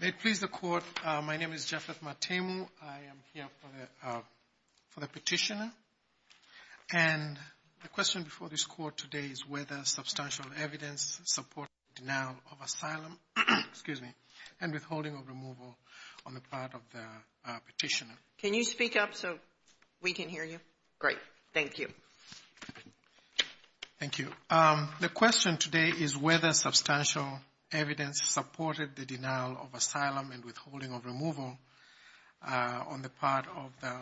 May it please the Court, my name is Jeffreth Matemu. I am here for the petitioner and the question before this Court today is whether substantial evidence supports the denial of asylum and withholding of removal on the part of the petitioner. Can you speak up so we can hear you? Great, thank you. Thank you. The question today is whether substantial evidence supported the denial of asylum and withholding of removal on the part of the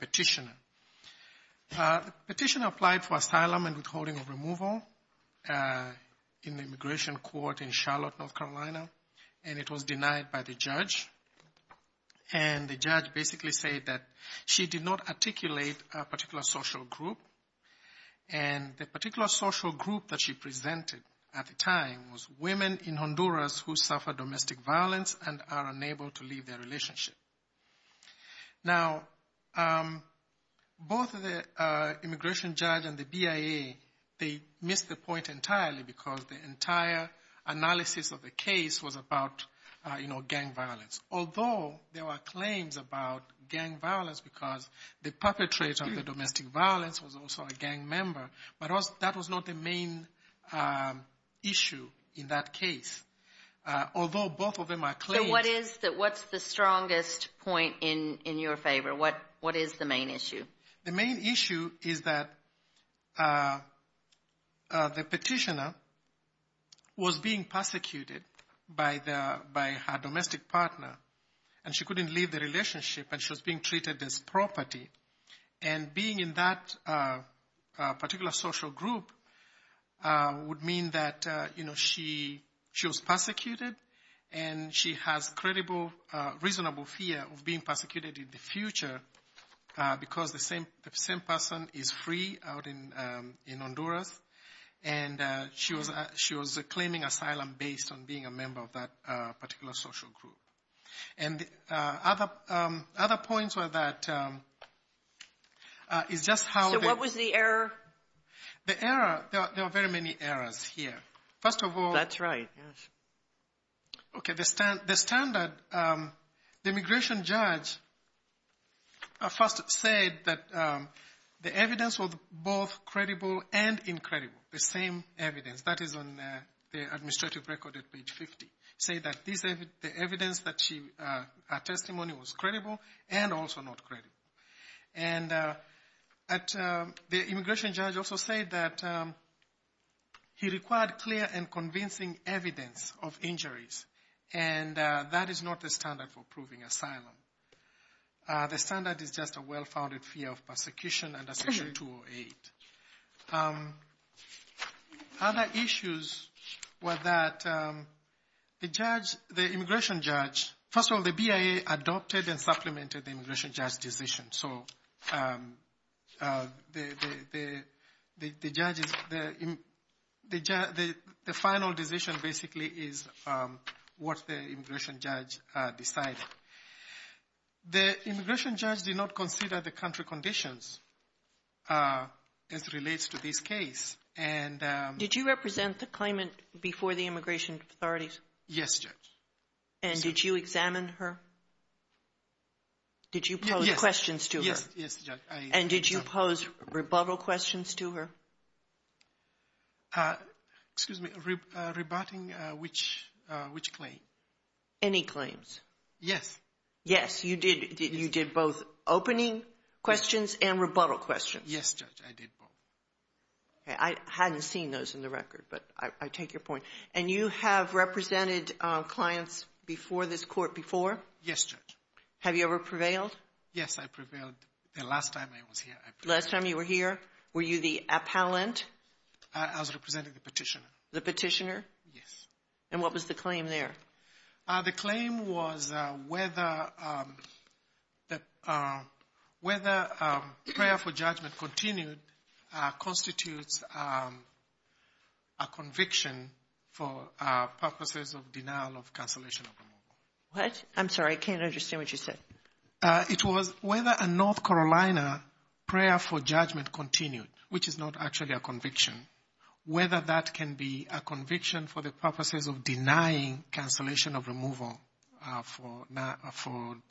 petitioner. The petitioner applied for asylum and withholding of removal in the immigration court in Charlotte, North Carolina and it was denied by the and the particular social group that she presented at the time was women in Honduras who suffer domestic violence and are unable to leave their relationship. Now, both the immigration judge and the BIA, they missed the point entirely because the entire analysis of the case was about gang violence, although there were also a gang member, but that was not the main issue in that case, although both of them are claims. So what is the strongest point in your favor? What is the main issue? The main issue is that the petitioner was being persecuted by her domestic partner and she couldn't leave the relationship and she was being treated as property and being in that particular social group would mean that she was persecuted and she has reasonable fear of being persecuted in the future because the same person is free out in Honduras and she was claiming asylum based on being a member of that particular social group. And other points were that it's just how... So what was the error? The error, there are very many errors here. First of all... That's right, yes. Okay, the standard, the immigration judge first said that the evidence was both credible and incredible, the same evidence that her testimony was credible and also not credible. And the immigration judge also said that he required clear and convincing evidence of injuries and that is not the standard for proving asylum. The standard is just a well-founded fear of persecution under Section 208. Other issues were that the immigration judge, first of all the BIA adopted and supplemented the immigration judge's decision. So the final decision basically is what the immigration judge decided. The immigration judge did not consider the country conditions as it relates to this case and... Did you represent the claimant before the immigration authorities? Yes, Judge. And did you examine her? Did you pose questions to her? Yes, yes, Judge. And did you pose rebuttal questions to her? Excuse me, rebutting which claim? Any claims. Yes. Yes, you did both opening questions and rebuttal questions. Yes, Judge, I did both. I hadn't seen those in the record, but I take your point. And you have represented clients before this court before? Yes, Judge. Have you ever prevailed? Yes, I prevailed the last time I was here. Last time you were here, were you the appellant? I was representing the petitioner. The petitioner? Yes. And what was the claim there? The claim was whether prayer for judgment continued constitutes a conviction for purposes of denial of cancellation of removal. What? I'm sorry, I can't understand what you said. It was whether a North Carolina prayer for judgment continued, which is not actually a conviction, whether that can be a conviction for the purposes of denying cancellation of removal for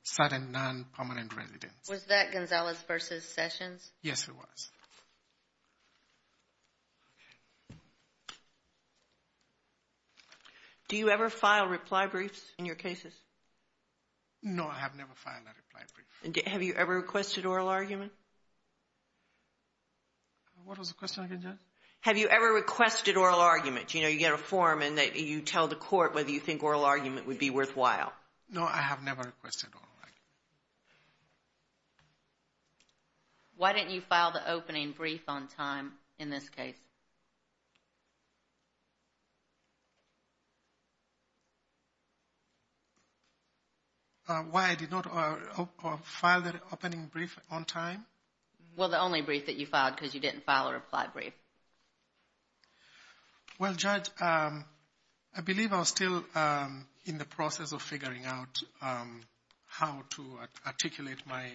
certain non-permanent residents. Was that Gonzalez v. Sessions? Yes, it was. Do you ever file reply briefs in your cases? No, I have never filed a reply brief. Have you ever requested oral argument? What was the question again, Judge? Have you ever requested oral argument? You know, you get a form and you tell the court whether you think oral argument would be worthwhile. No, I have never requested oral argument. Why didn't you file the opening brief on time in this case? Why did you not file the opening brief on time? Well, the only brief that you filed, because you didn't file a reply brief. Well, Judge, I believe I was still in the process of figuring out how to articulate my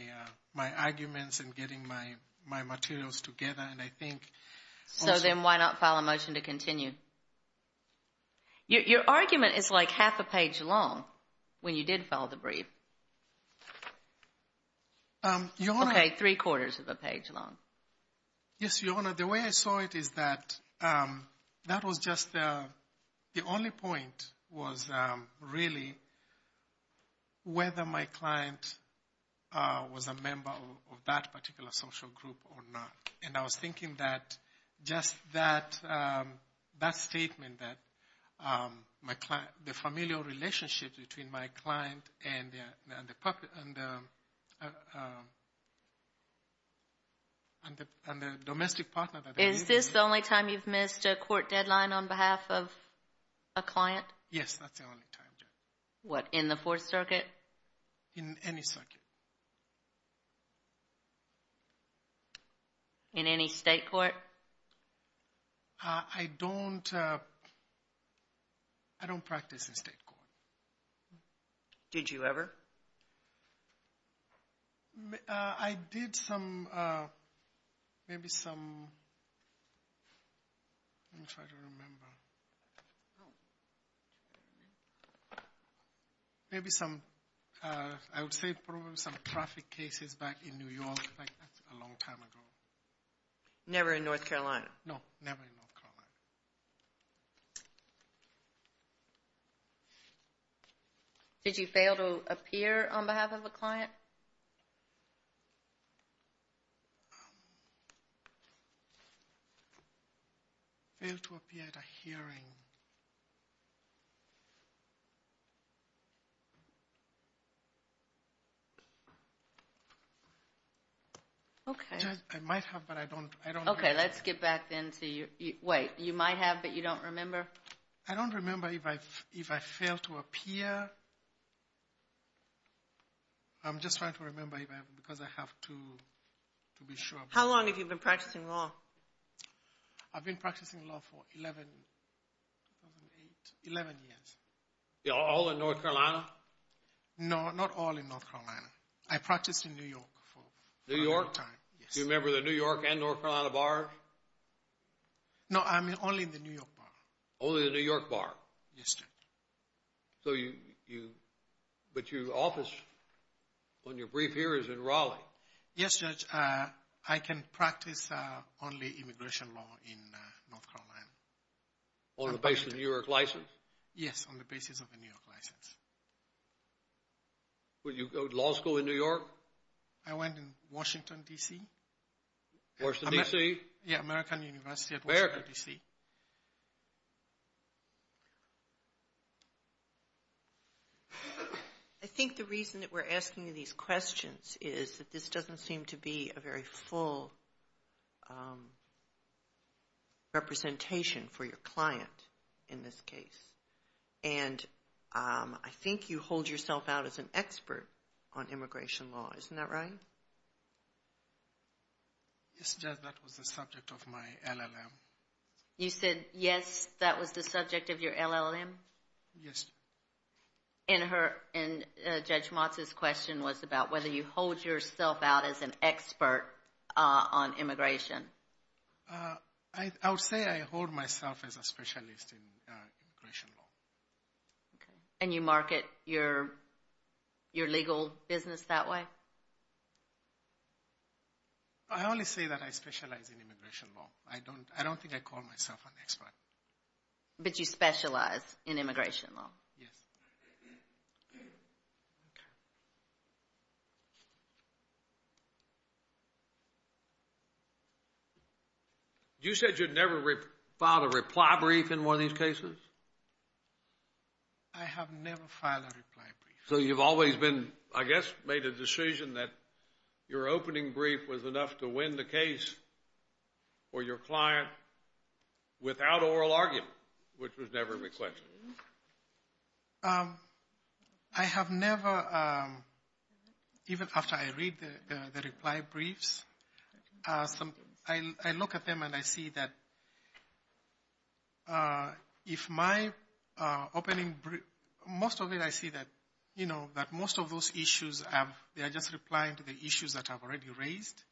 arguments and getting my materials together, and I think... So then why not file a motion to continue? Your argument is like half a page long when you did file the brief. Okay, three quarters of a page long. Yes, Your Honor, the way I saw it is that that was just the only point was really whether my client was a member of that particular social group or not. And I was thinking that just that statement that the familial relationship between my client and the domestic partner... Is this the only time you've missed a court deadline on behalf of a client? Yes, that's the only time, Judge. What, in the Fourth Circuit? In any circuit. In any state court? I don't practice in state court. Did you ever? I did some... Maybe some... Let me try to remember. Maybe some... I would say probably some traffic cases back in New York. That's a long time ago. Never in North Carolina? No, never in North Carolina. Did you fail to appear on behalf of a client? Failed to appear at a hearing. Okay. I might have, but I don't... Okay, let's get back then to your... Wait, you might have, but you don't remember? I don't remember if I failed to appear. I'm just trying to remember because I have to be sure. How long have you been practicing law? I've been practicing law for 11 years. All in North Carolina? No, not all in North Carolina. I practiced in New York for a long time. Do you remember the New York and North Carolina bars? No, only the New York bar. Only the New York bar? But your office, on your brief here, is in Raleigh. Yes, Judge. I can practice only immigration law in North Carolina. On the basis of a New York license? Yes, on the basis of a New York license. Did you go to law school in New York? I went in Washington, D.C. Washington, D.C.? Yeah, American University at Washington, D.C. I think the reason that we're asking you these questions is that this doesn't seem to be a very full representation for your client in this case. And I think you hold yourself out as an expert on immigration law. Isn't that right? Yes, Judge, that was the subject of my LLM. You said, yes, that was the subject of your LLM? Yes. And Judge Motz's question was about whether you hold yourself out as an expert on immigration. I would say I hold myself as a specialist in immigration law. And you market your legal business that way? I only say that I specialize in immigration law. I don't think I call myself an expert. But you specialize in immigration law? Yes. You said you'd never filed a reply brief in one of these cases? I have never filed a reply brief. So you've always been, I guess, made a decision that your opening brief was enough to win the case for your client without oral argument, which was never requested? I have never, even after I read the reply briefs, I look at them and I see that if my opening brief, most of it I see that most of those issues, they are just replying to the issues that I've already raised.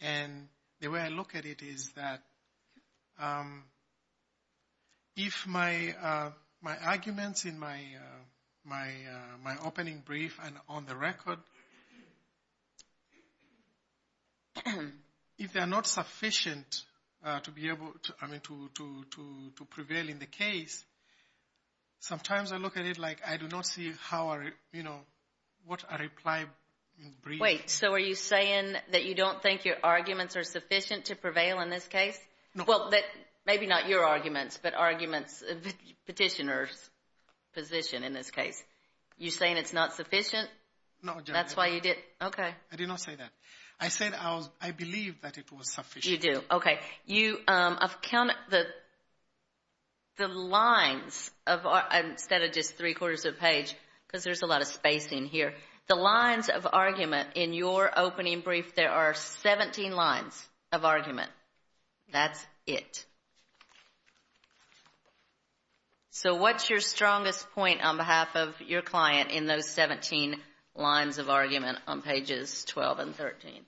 And the way I look at it is that if my arguments in my opening brief and on the record if they are not sufficient to prevail in the case, sometimes I look at it like I do not see what a reply brief... Wait, so are you saying that you don't think your arguments are sufficient to prevail in this case? Well, maybe not your arguments, but the petitioner's position in this case. You're saying it's not sufficient? No. That's why you didn't? I did not say that. I said I believe that it was sufficient. You do. Okay. I've counted the lines of argument instead of just three quarters of a page because there's a lot of space in here. The lines of argument in your opening brief, there are 17 lines of argument. That's it. So what's your strongest point on behalf of your client in those 17 lines of argument on pages 12 and 13?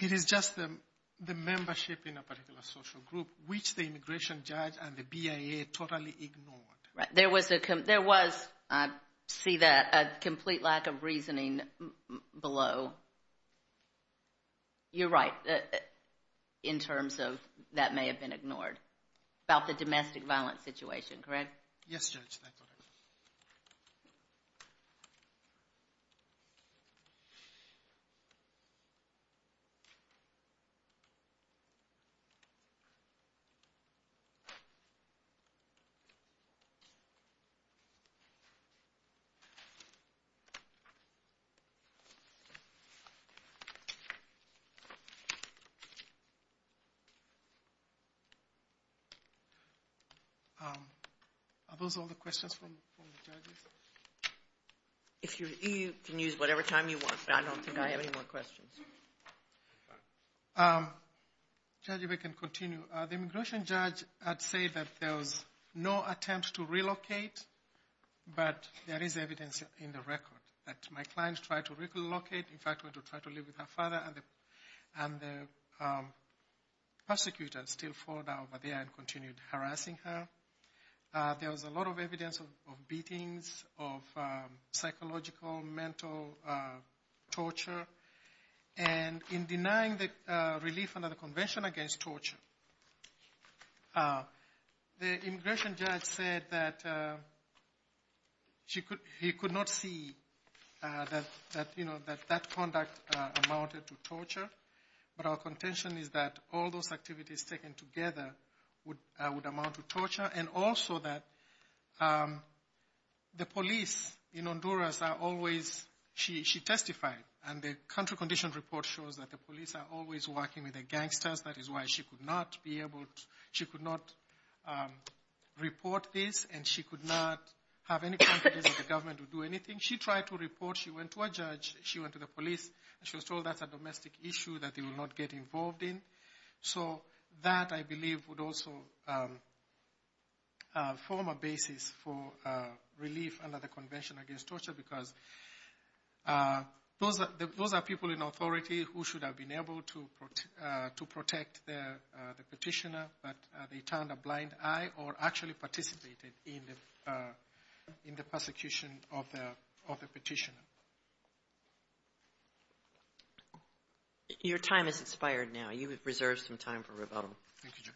It is just the membership in a particular social group which the immigration judge and the BIA totally ignored. Right. There was, I see that, a complete lack of reasoning below. You're right in terms of that may have been ignored about the domestic violence situation, correct? Yes, Judge, that's correct. Thank you. If you can use whatever time you want, but I don't think I have any more questions. Judge, if I can continue. The immigration judge had said that there was no attempt to relocate, but there is evidence in the record that my client tried to relocate. In fact, went to try to live with her father and the prosecutor still followed her over there and continued harassing her. There was a lot of evidence of beatings, of psychological, mental torture. And in denying the relief under the Convention against Torture, the immigration judge said that he could not see that, you know, that that conduct amounted to torture. But our contention is that all those activities taken together would amount to torture. And also that the police in Honduras are always... She testified and the country condition report shows that the police are always working with the gangsters. That is why she could not be able to... She could not report this and she could not have any confidence that the government would do anything. She tried to report, she went to a judge, she went to the police, and she was told that's a domestic issue that they will not get involved in. So that, I believe, would also form a basis for relief under the Convention against Torture because those are people in authority who should have been able to protect the petitioner, but they turned a blind eye or actually participated in the persecution of the petitioner. Your time has expired now. You have reserved some time for rebuttal. Thank you, Judge.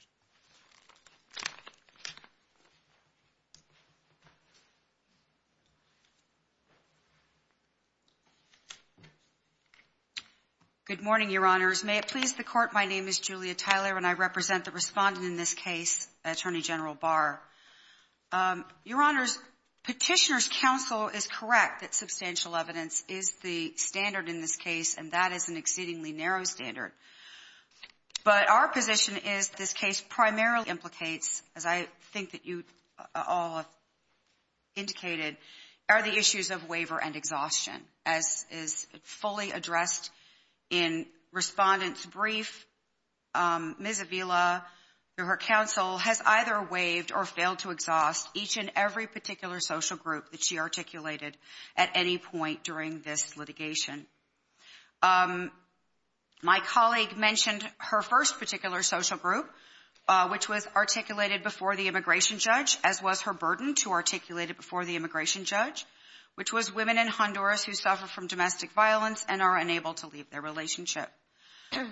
Good morning, Your Honors. May it please the Court, my name is Julia Tyler and I represent the respondent in this case, Attorney General Barr. Your Honors, Petitioner's counsel is correct that substantial evidence is the standard in this case and that is an exceedingly narrow standard. But our position is this case primarily implicates, as I think that you all have indicated, are the issues of waiver and exhaustion. As is fully addressed in Respondent's Brief, Ms. Avila, through her counsel, has either waived or failed to exhaust each and every particular social group that she articulated at any point during this litigation. My colleague mentioned her first particular social group, which was articulated before the immigration judge, as was her burden to articulate it before the immigration judge, which was women in Honduras who suffer from domestic violence and are unable to leave their relationship.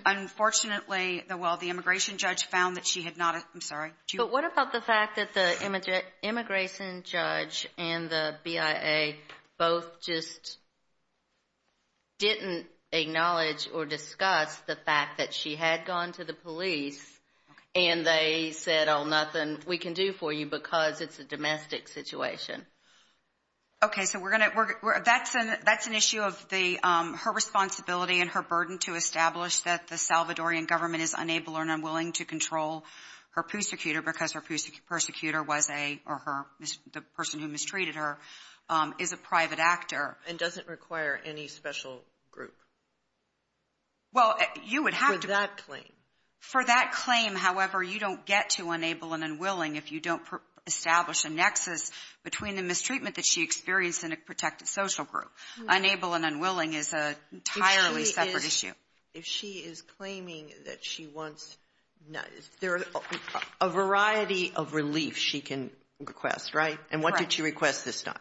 Unfortunately, the immigration judge found that she had not... I'm sorry. But what about the fact that the immigration judge and the BIA both just didn't acknowledge or discuss the fact that she had gone to the police and they said, oh, nothing we can do for you because it's a domestic situation? Okay, so that's an issue of her responsibility and her burden to establish that the Salvadorian government is unable or unwilling to control her persecutor or the person who mistreated her is a private actor. And doesn't require any special group? Well, you would have to... For that claim. For that claim, however, you don't get to unable and unwilling if you don't establish a nexus between the mistreatment that she experienced in a protected social group. Unable and unwilling is an entirely separate issue. If she is claiming that she wants... There are a variety of relief she can request, right? And what did she request this time?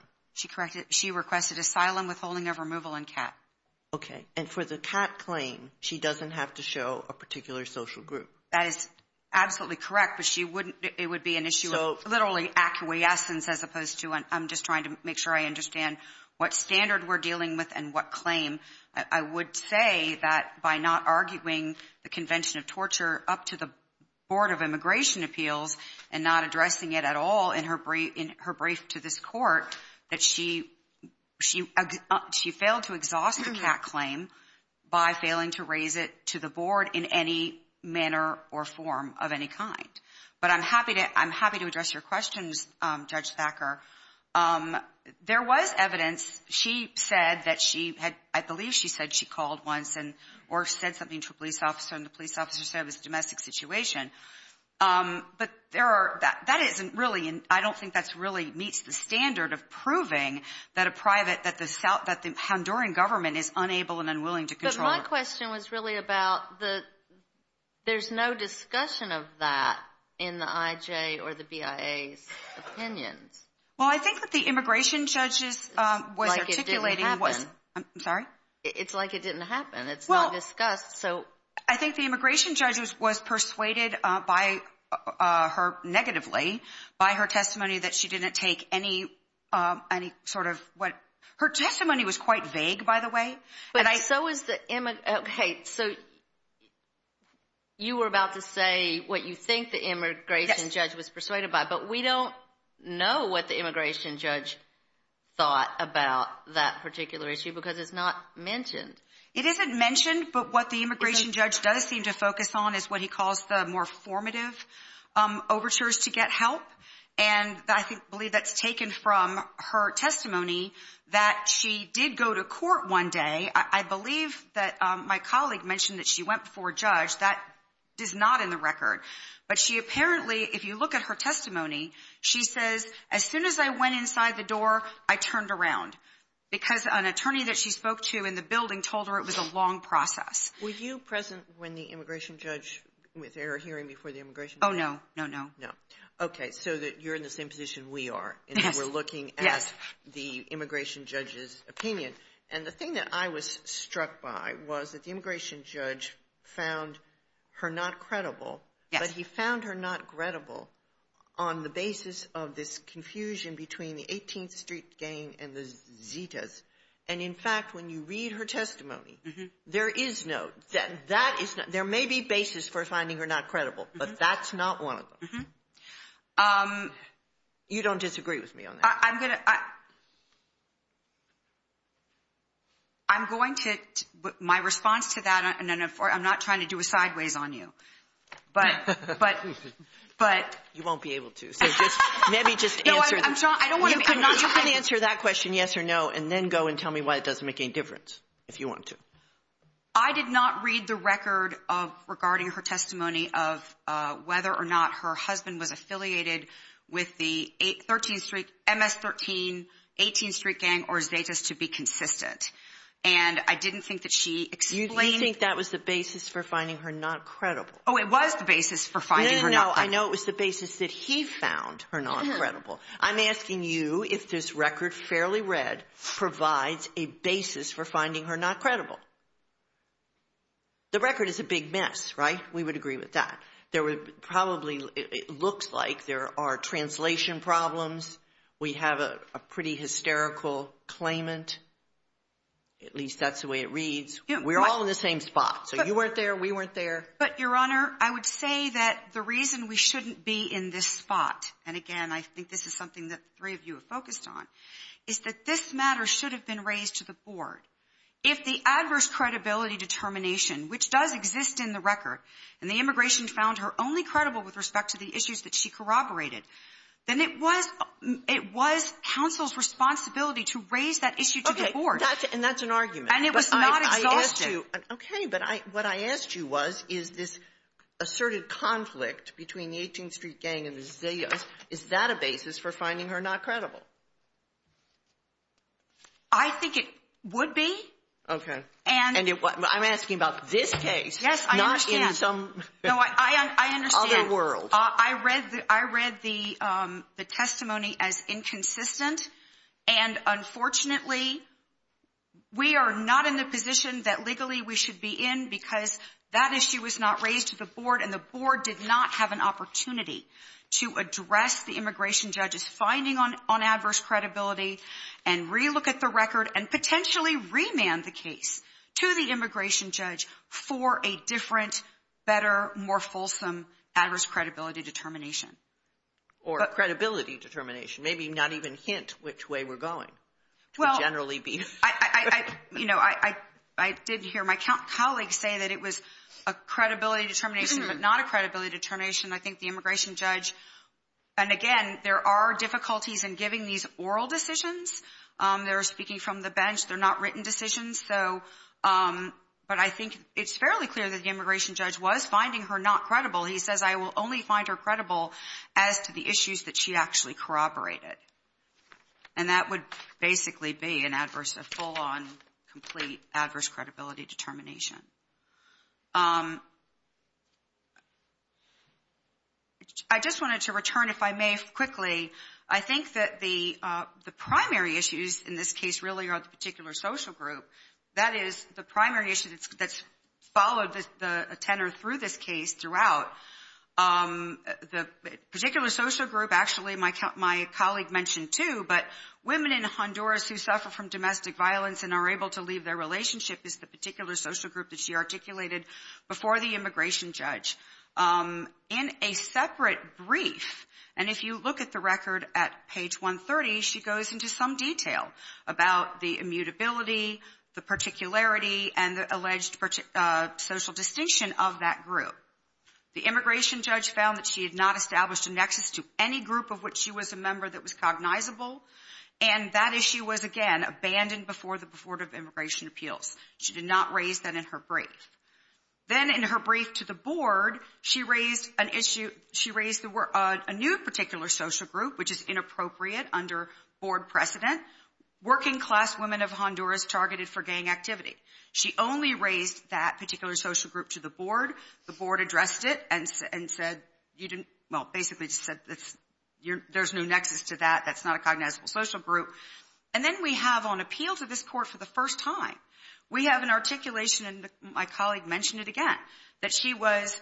She requested asylum, withholding of removal, and CAT. Okay, and for the CAT claim, she doesn't have to show a particular social group. That is absolutely correct, but it would be an issue of literally acquiescence as opposed to, I'm just trying to make sure I understand what standard we're dealing with and what claim. I would say that by not arguing the convention of torture up to the Board of Immigration Appeals and not addressing it at all in her brief to this court, that she failed to exhaust the CAT claim by failing to raise it to the board in any manner or form of any kind. But I'm happy to address your questions, Judge Thacker. There was evidence. She said that she had... I believe she said she called once or said something to a police officer and the police officer said it was a domestic situation. But that isn't really... I don't think that really meets the standard of proving that a private, that the Honduran government is unable and unwilling to control her. But my question was really about the... There's no discussion of that in the IJ or the BIA's opinions. Well, I think what the immigration judge was articulating... It's like it didn't happen. I'm sorry? It's like it didn't happen. It's not discussed. So... I think the immigration judge was persuaded by her negatively by her testimony that she didn't take any sort of... Her testimony was quite vague, by the way. But so is the... Okay, so you were about to say what you think the immigration judge was persuaded by, but we don't know what the immigration judge thought about that particular issue because it's not mentioned. It isn't mentioned, but what the immigration judge does seem to focus on is what he calls the more formative overtures to get help. And I believe that's taken from her testimony that she did go to court one day. I believe that my colleague mentioned that she went before a judge. That is not in the record. But she apparently, if you look at her testimony, she says, as soon as I went inside the door, I turned around because an attorney that she spoke to in the building told her it was a long process. Were you present when the immigration judge... Was there a hearing before the immigration judge? Oh, no. No, no. Okay, so you're in the same position we are in that we're looking at the immigration judge's opinion. And the thing that I was struck by was that the immigration judge found her not credible, but he found her not credible on the basis of this confusion between the 18th Street gang and the Zetas. And, in fact, when you read her testimony, there is no... There may be basis for finding her not credible, but that's not one of them. You don't disagree with me on that? I'm going to... I'm going to... My response to that, I'm not trying to do a sideways on you. But... You won't be able to. Maybe just answer that. You can answer that question, yes or no, and then go and tell me why it doesn't make any difference, if you want to. I did not read the record regarding her testimony of whether or not her husband was affiliated with the 13th Street, MS-13, 18th Street gang or Zetas to be consistent. And I didn't think that she explained... You think that was the basis for finding her not credible. Oh, it was the basis for finding her not credible. Well, I know it was the basis that he found her not credible. I'm asking you if this record, fairly read, provides a basis for finding her not credible. The record is a big mess, right? We would agree with that. There would probably... It looks like there are translation problems. We have a pretty hysterical claimant. At least that's the way it reads. We're all in the same spot. So you weren't there, we weren't there. But, Your Honor, I would say that the reason we shouldn't be in this spot, and again, I think this is something that the three of you have focused on, is that this matter should have been raised to the board. If the adverse credibility determination, which does exist in the record, and the immigration found her only credible with respect to the issues that she corroborated, then it was counsel's responsibility to raise that issue to the board. Okay, and that's an argument. And it was not exhaustive. Okay, but what I asked you was, is this asserted conflict between the 18th Street Gang and the Zillas, is that a basis for finding her not credible? I think it would be. Okay. I'm asking about this case. Yes, I understand. Not in some other world. I understand. I read the testimony as inconsistent, and unfortunately, we are not in the position that legally we should be in because that issue was not raised to the board, and the board did not have an opportunity to address the immigration judge's finding on adverse credibility and relook at the record and potentially remand the case to the immigration judge for a different, better, more fulsome adverse credibility determination. Or credibility determination. Maybe not even hint which way we're going. Well, I, you know, I did hear my colleagues say that it was a credibility determination, but not a credibility determination. I think the immigration judge, and again, there are difficulties in giving these oral decisions. They're speaking from the bench. They're not written decisions. So, but I think it's fairly clear that the immigration judge was finding her not credible. He says, I will only find her credible as to the issues that she actually corroborated. And that would basically be an adverse, a full-on complete adverse credibility determination. I just wanted to return, if I may quickly, I think that the primary issues in this case really are the particular social group. That is, the primary issue that's followed a tenor through this case throughout. The particular social group, actually, my colleague mentioned too, but women in Honduras who suffer from domestic violence and are able to leave their relationship is the particular social group that she articulated before the immigration judge. In a separate brief, and if you look at the record at page 130, she goes into some detail about the immutability, the particularity, and the alleged social distinction of that group. The immigration judge found that she had not established a nexus to any group of which she was a member that was cognizable. And that issue was, again, abandoned before the Board of Immigration Appeals. She did not raise that in her brief. Then in her brief to the board, she raised an issue, she raised a new particular social group, which is inappropriate under board precedent, working class women of Honduras targeted for gang activity. She only raised that particular social group to the board. The board addressed it and said you didn't, well, basically just said there's no nexus to that, that's not a cognizable social group. And then we have on appeal to this court for the first time, we have an articulation, and my colleague mentioned it again, that she was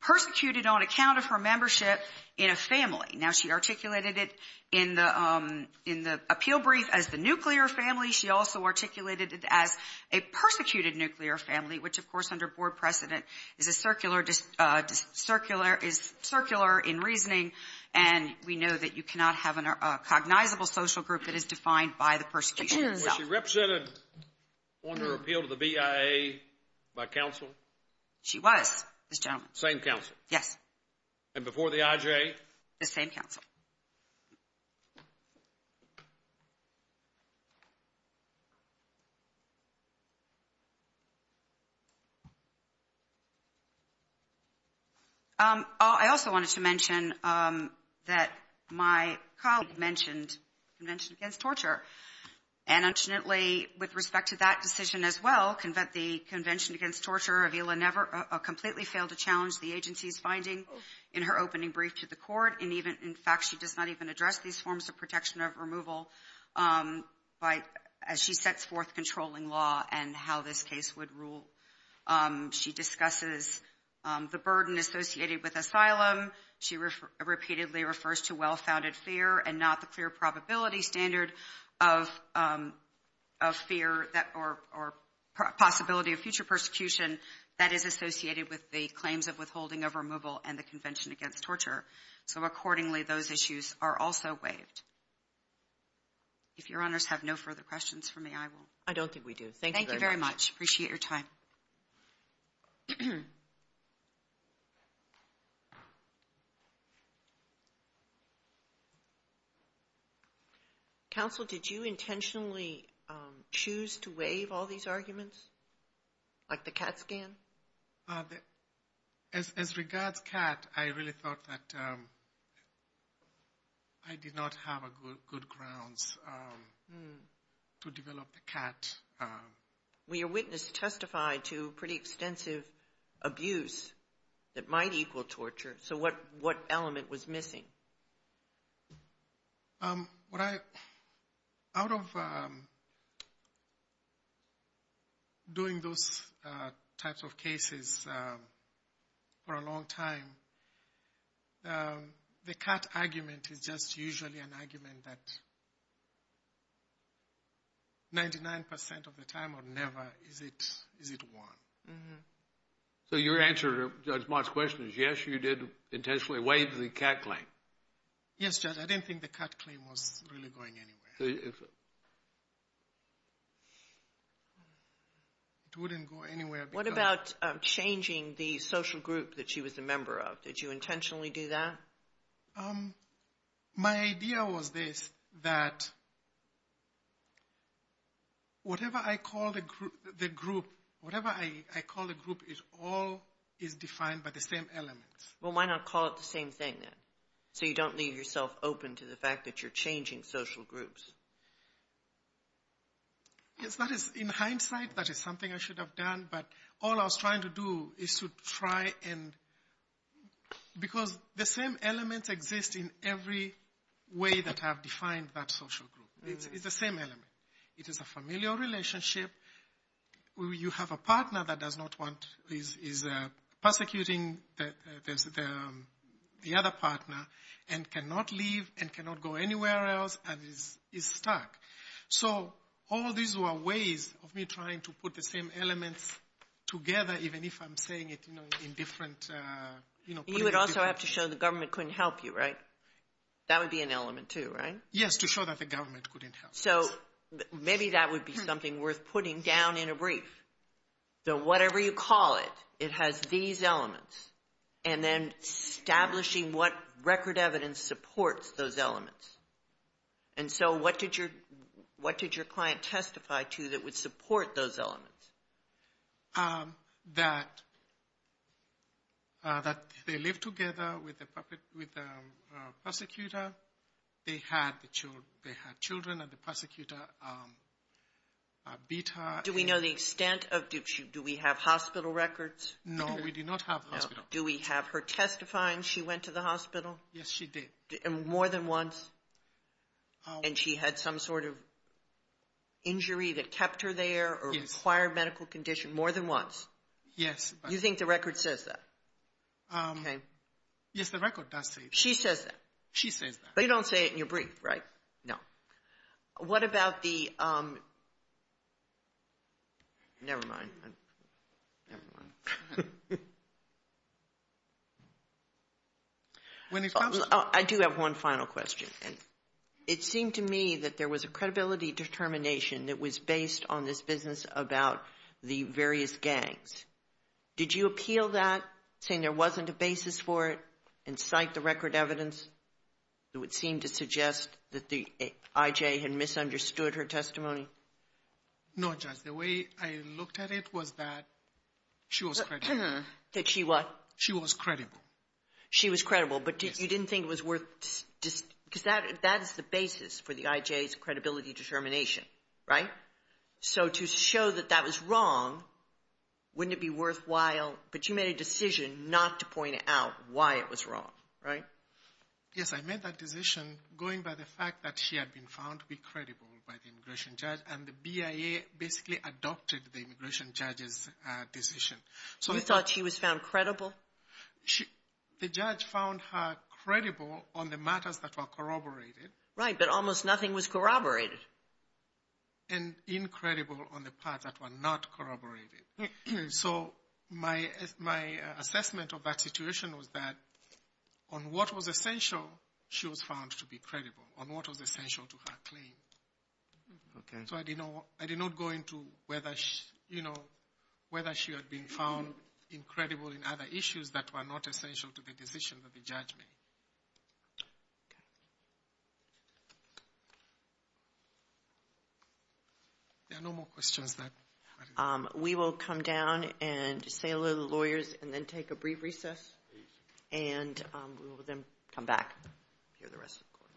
persecuted on account of her membership in a family. Now she articulated it in the appeal brief as the nuclear family. She also articulated it as a persecuted nuclear family, which of course under board precedent is a circular, is circular in reasoning, and we know that you cannot have a cognizable social group that is defined by the persecution itself. Was she represented on her appeal to the BIA by counsel? She was, this gentleman. Same counsel? Yes. And before the IJ? The same counsel. Thank you. I also wanted to mention that my colleague mentioned the Convention Against Torture, and unfortunately with respect to that decision as well, the Convention Against Torture completely failed to challenge In fact, she does not even address these forms of protection of removal as she sets forth controlling law and how this case would rule. She discusses the burden associated with asylum. She repeatedly refers to well-founded fear and not the clear probability standard of fear or possibility of future persecution that is associated with the claims of withholding of removal and the Convention Against Torture. So accordingly, those issues are also waived. If your honors have no further questions for me, I will. I don't think we do. Thank you very much. Thank you very much. Appreciate your time. Counsel, did you intentionally choose to waive all these arguments, like the CAT scan? As regards CAT, I really thought that I did not have good grounds to develop the CAT. Well, your witness testified to pretty extensive abuse that might equal torture. So what element was missing? Out of doing those types of cases for a long time, the CAT argument is just usually an argument that 99% of the time or never is it one. So your answer to Judge Mott's question is yes, you did intentionally waive the CAT claim. Yes, Judge, I didn't think the CAT claim was really going anywhere. It wouldn't go anywhere. What about changing the social group that she was a member of? Did you intentionally do that? My idea was this, that whatever I call the group, it all is defined by the same elements. Well, why not call it the same thing, then, so you don't leave yourself open to the fact that you're changing social groups? Yes, in hindsight, that is something I should have done, but all I was trying to do is to try and – because the same elements exist in every way that I have defined that social group. It's the same element. It is a familial relationship where you have a partner that is persecuting the other partner and cannot leave and cannot go anywhere else and is stuck. So all these were ways of me trying to put the same elements together, even if I'm saying it in different – You would also have to show the government couldn't help you, right? That would be an element, too, right? Yes, to show that the government couldn't help us. So maybe that would be something worth putting down in a brief. So whatever you call it, it has these elements, and then establishing what record evidence supports those elements. And so what did your client testify to that would support those elements? That they live together with the persecutor, they had children, and the persecutor beat her. Do we know the extent of – do we have hospital records? No, we do not have hospital records. Do we have her testifying she went to the hospital? Yes, she did. More than once? And she had some sort of injury that kept her there or required medical condition more than once? Yes. You think the record says that? Yes, the record does say that. She says that. She says that. But you don't say it in your brief, right? No. What about the – never mind. I do have one final question. It seemed to me that there was a credibility determination that was based on this business about the various gangs. Did you appeal that saying there wasn't a basis for it and cite the record evidence? It would seem to suggest that the IJ had misunderstood her testimony. No, Judge. The way I looked at it was that she was credible. That she what? She was credible. She was credible, but you didn't think it was worth – because that is the basis for the IJ's credibility determination, right? So to show that that was wrong, wouldn't it be worthwhile? But you made a decision not to point out why it was wrong, right? Yes, I made that decision going by the fact that she had been found to be credible by the immigration judge, and the BIA basically adopted the immigration judge's decision. You thought she was found credible? The judge found her credible on the matters that were corroborated. Right, but almost nothing was corroborated. And incredible on the parts that were not corroborated. So my assessment of that situation was that on what was essential, she was found to be credible, on what was essential to her claim. Okay. So I did not go into whether she had been found incredible in other issues that were not essential to the decision that the judge made. Okay. There are no more questions. We will come down and say hello to the lawyers and then take a brief recess. And we will then come back and hear the rest of the court.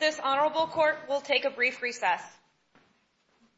This Honorable Court will take a brief recess.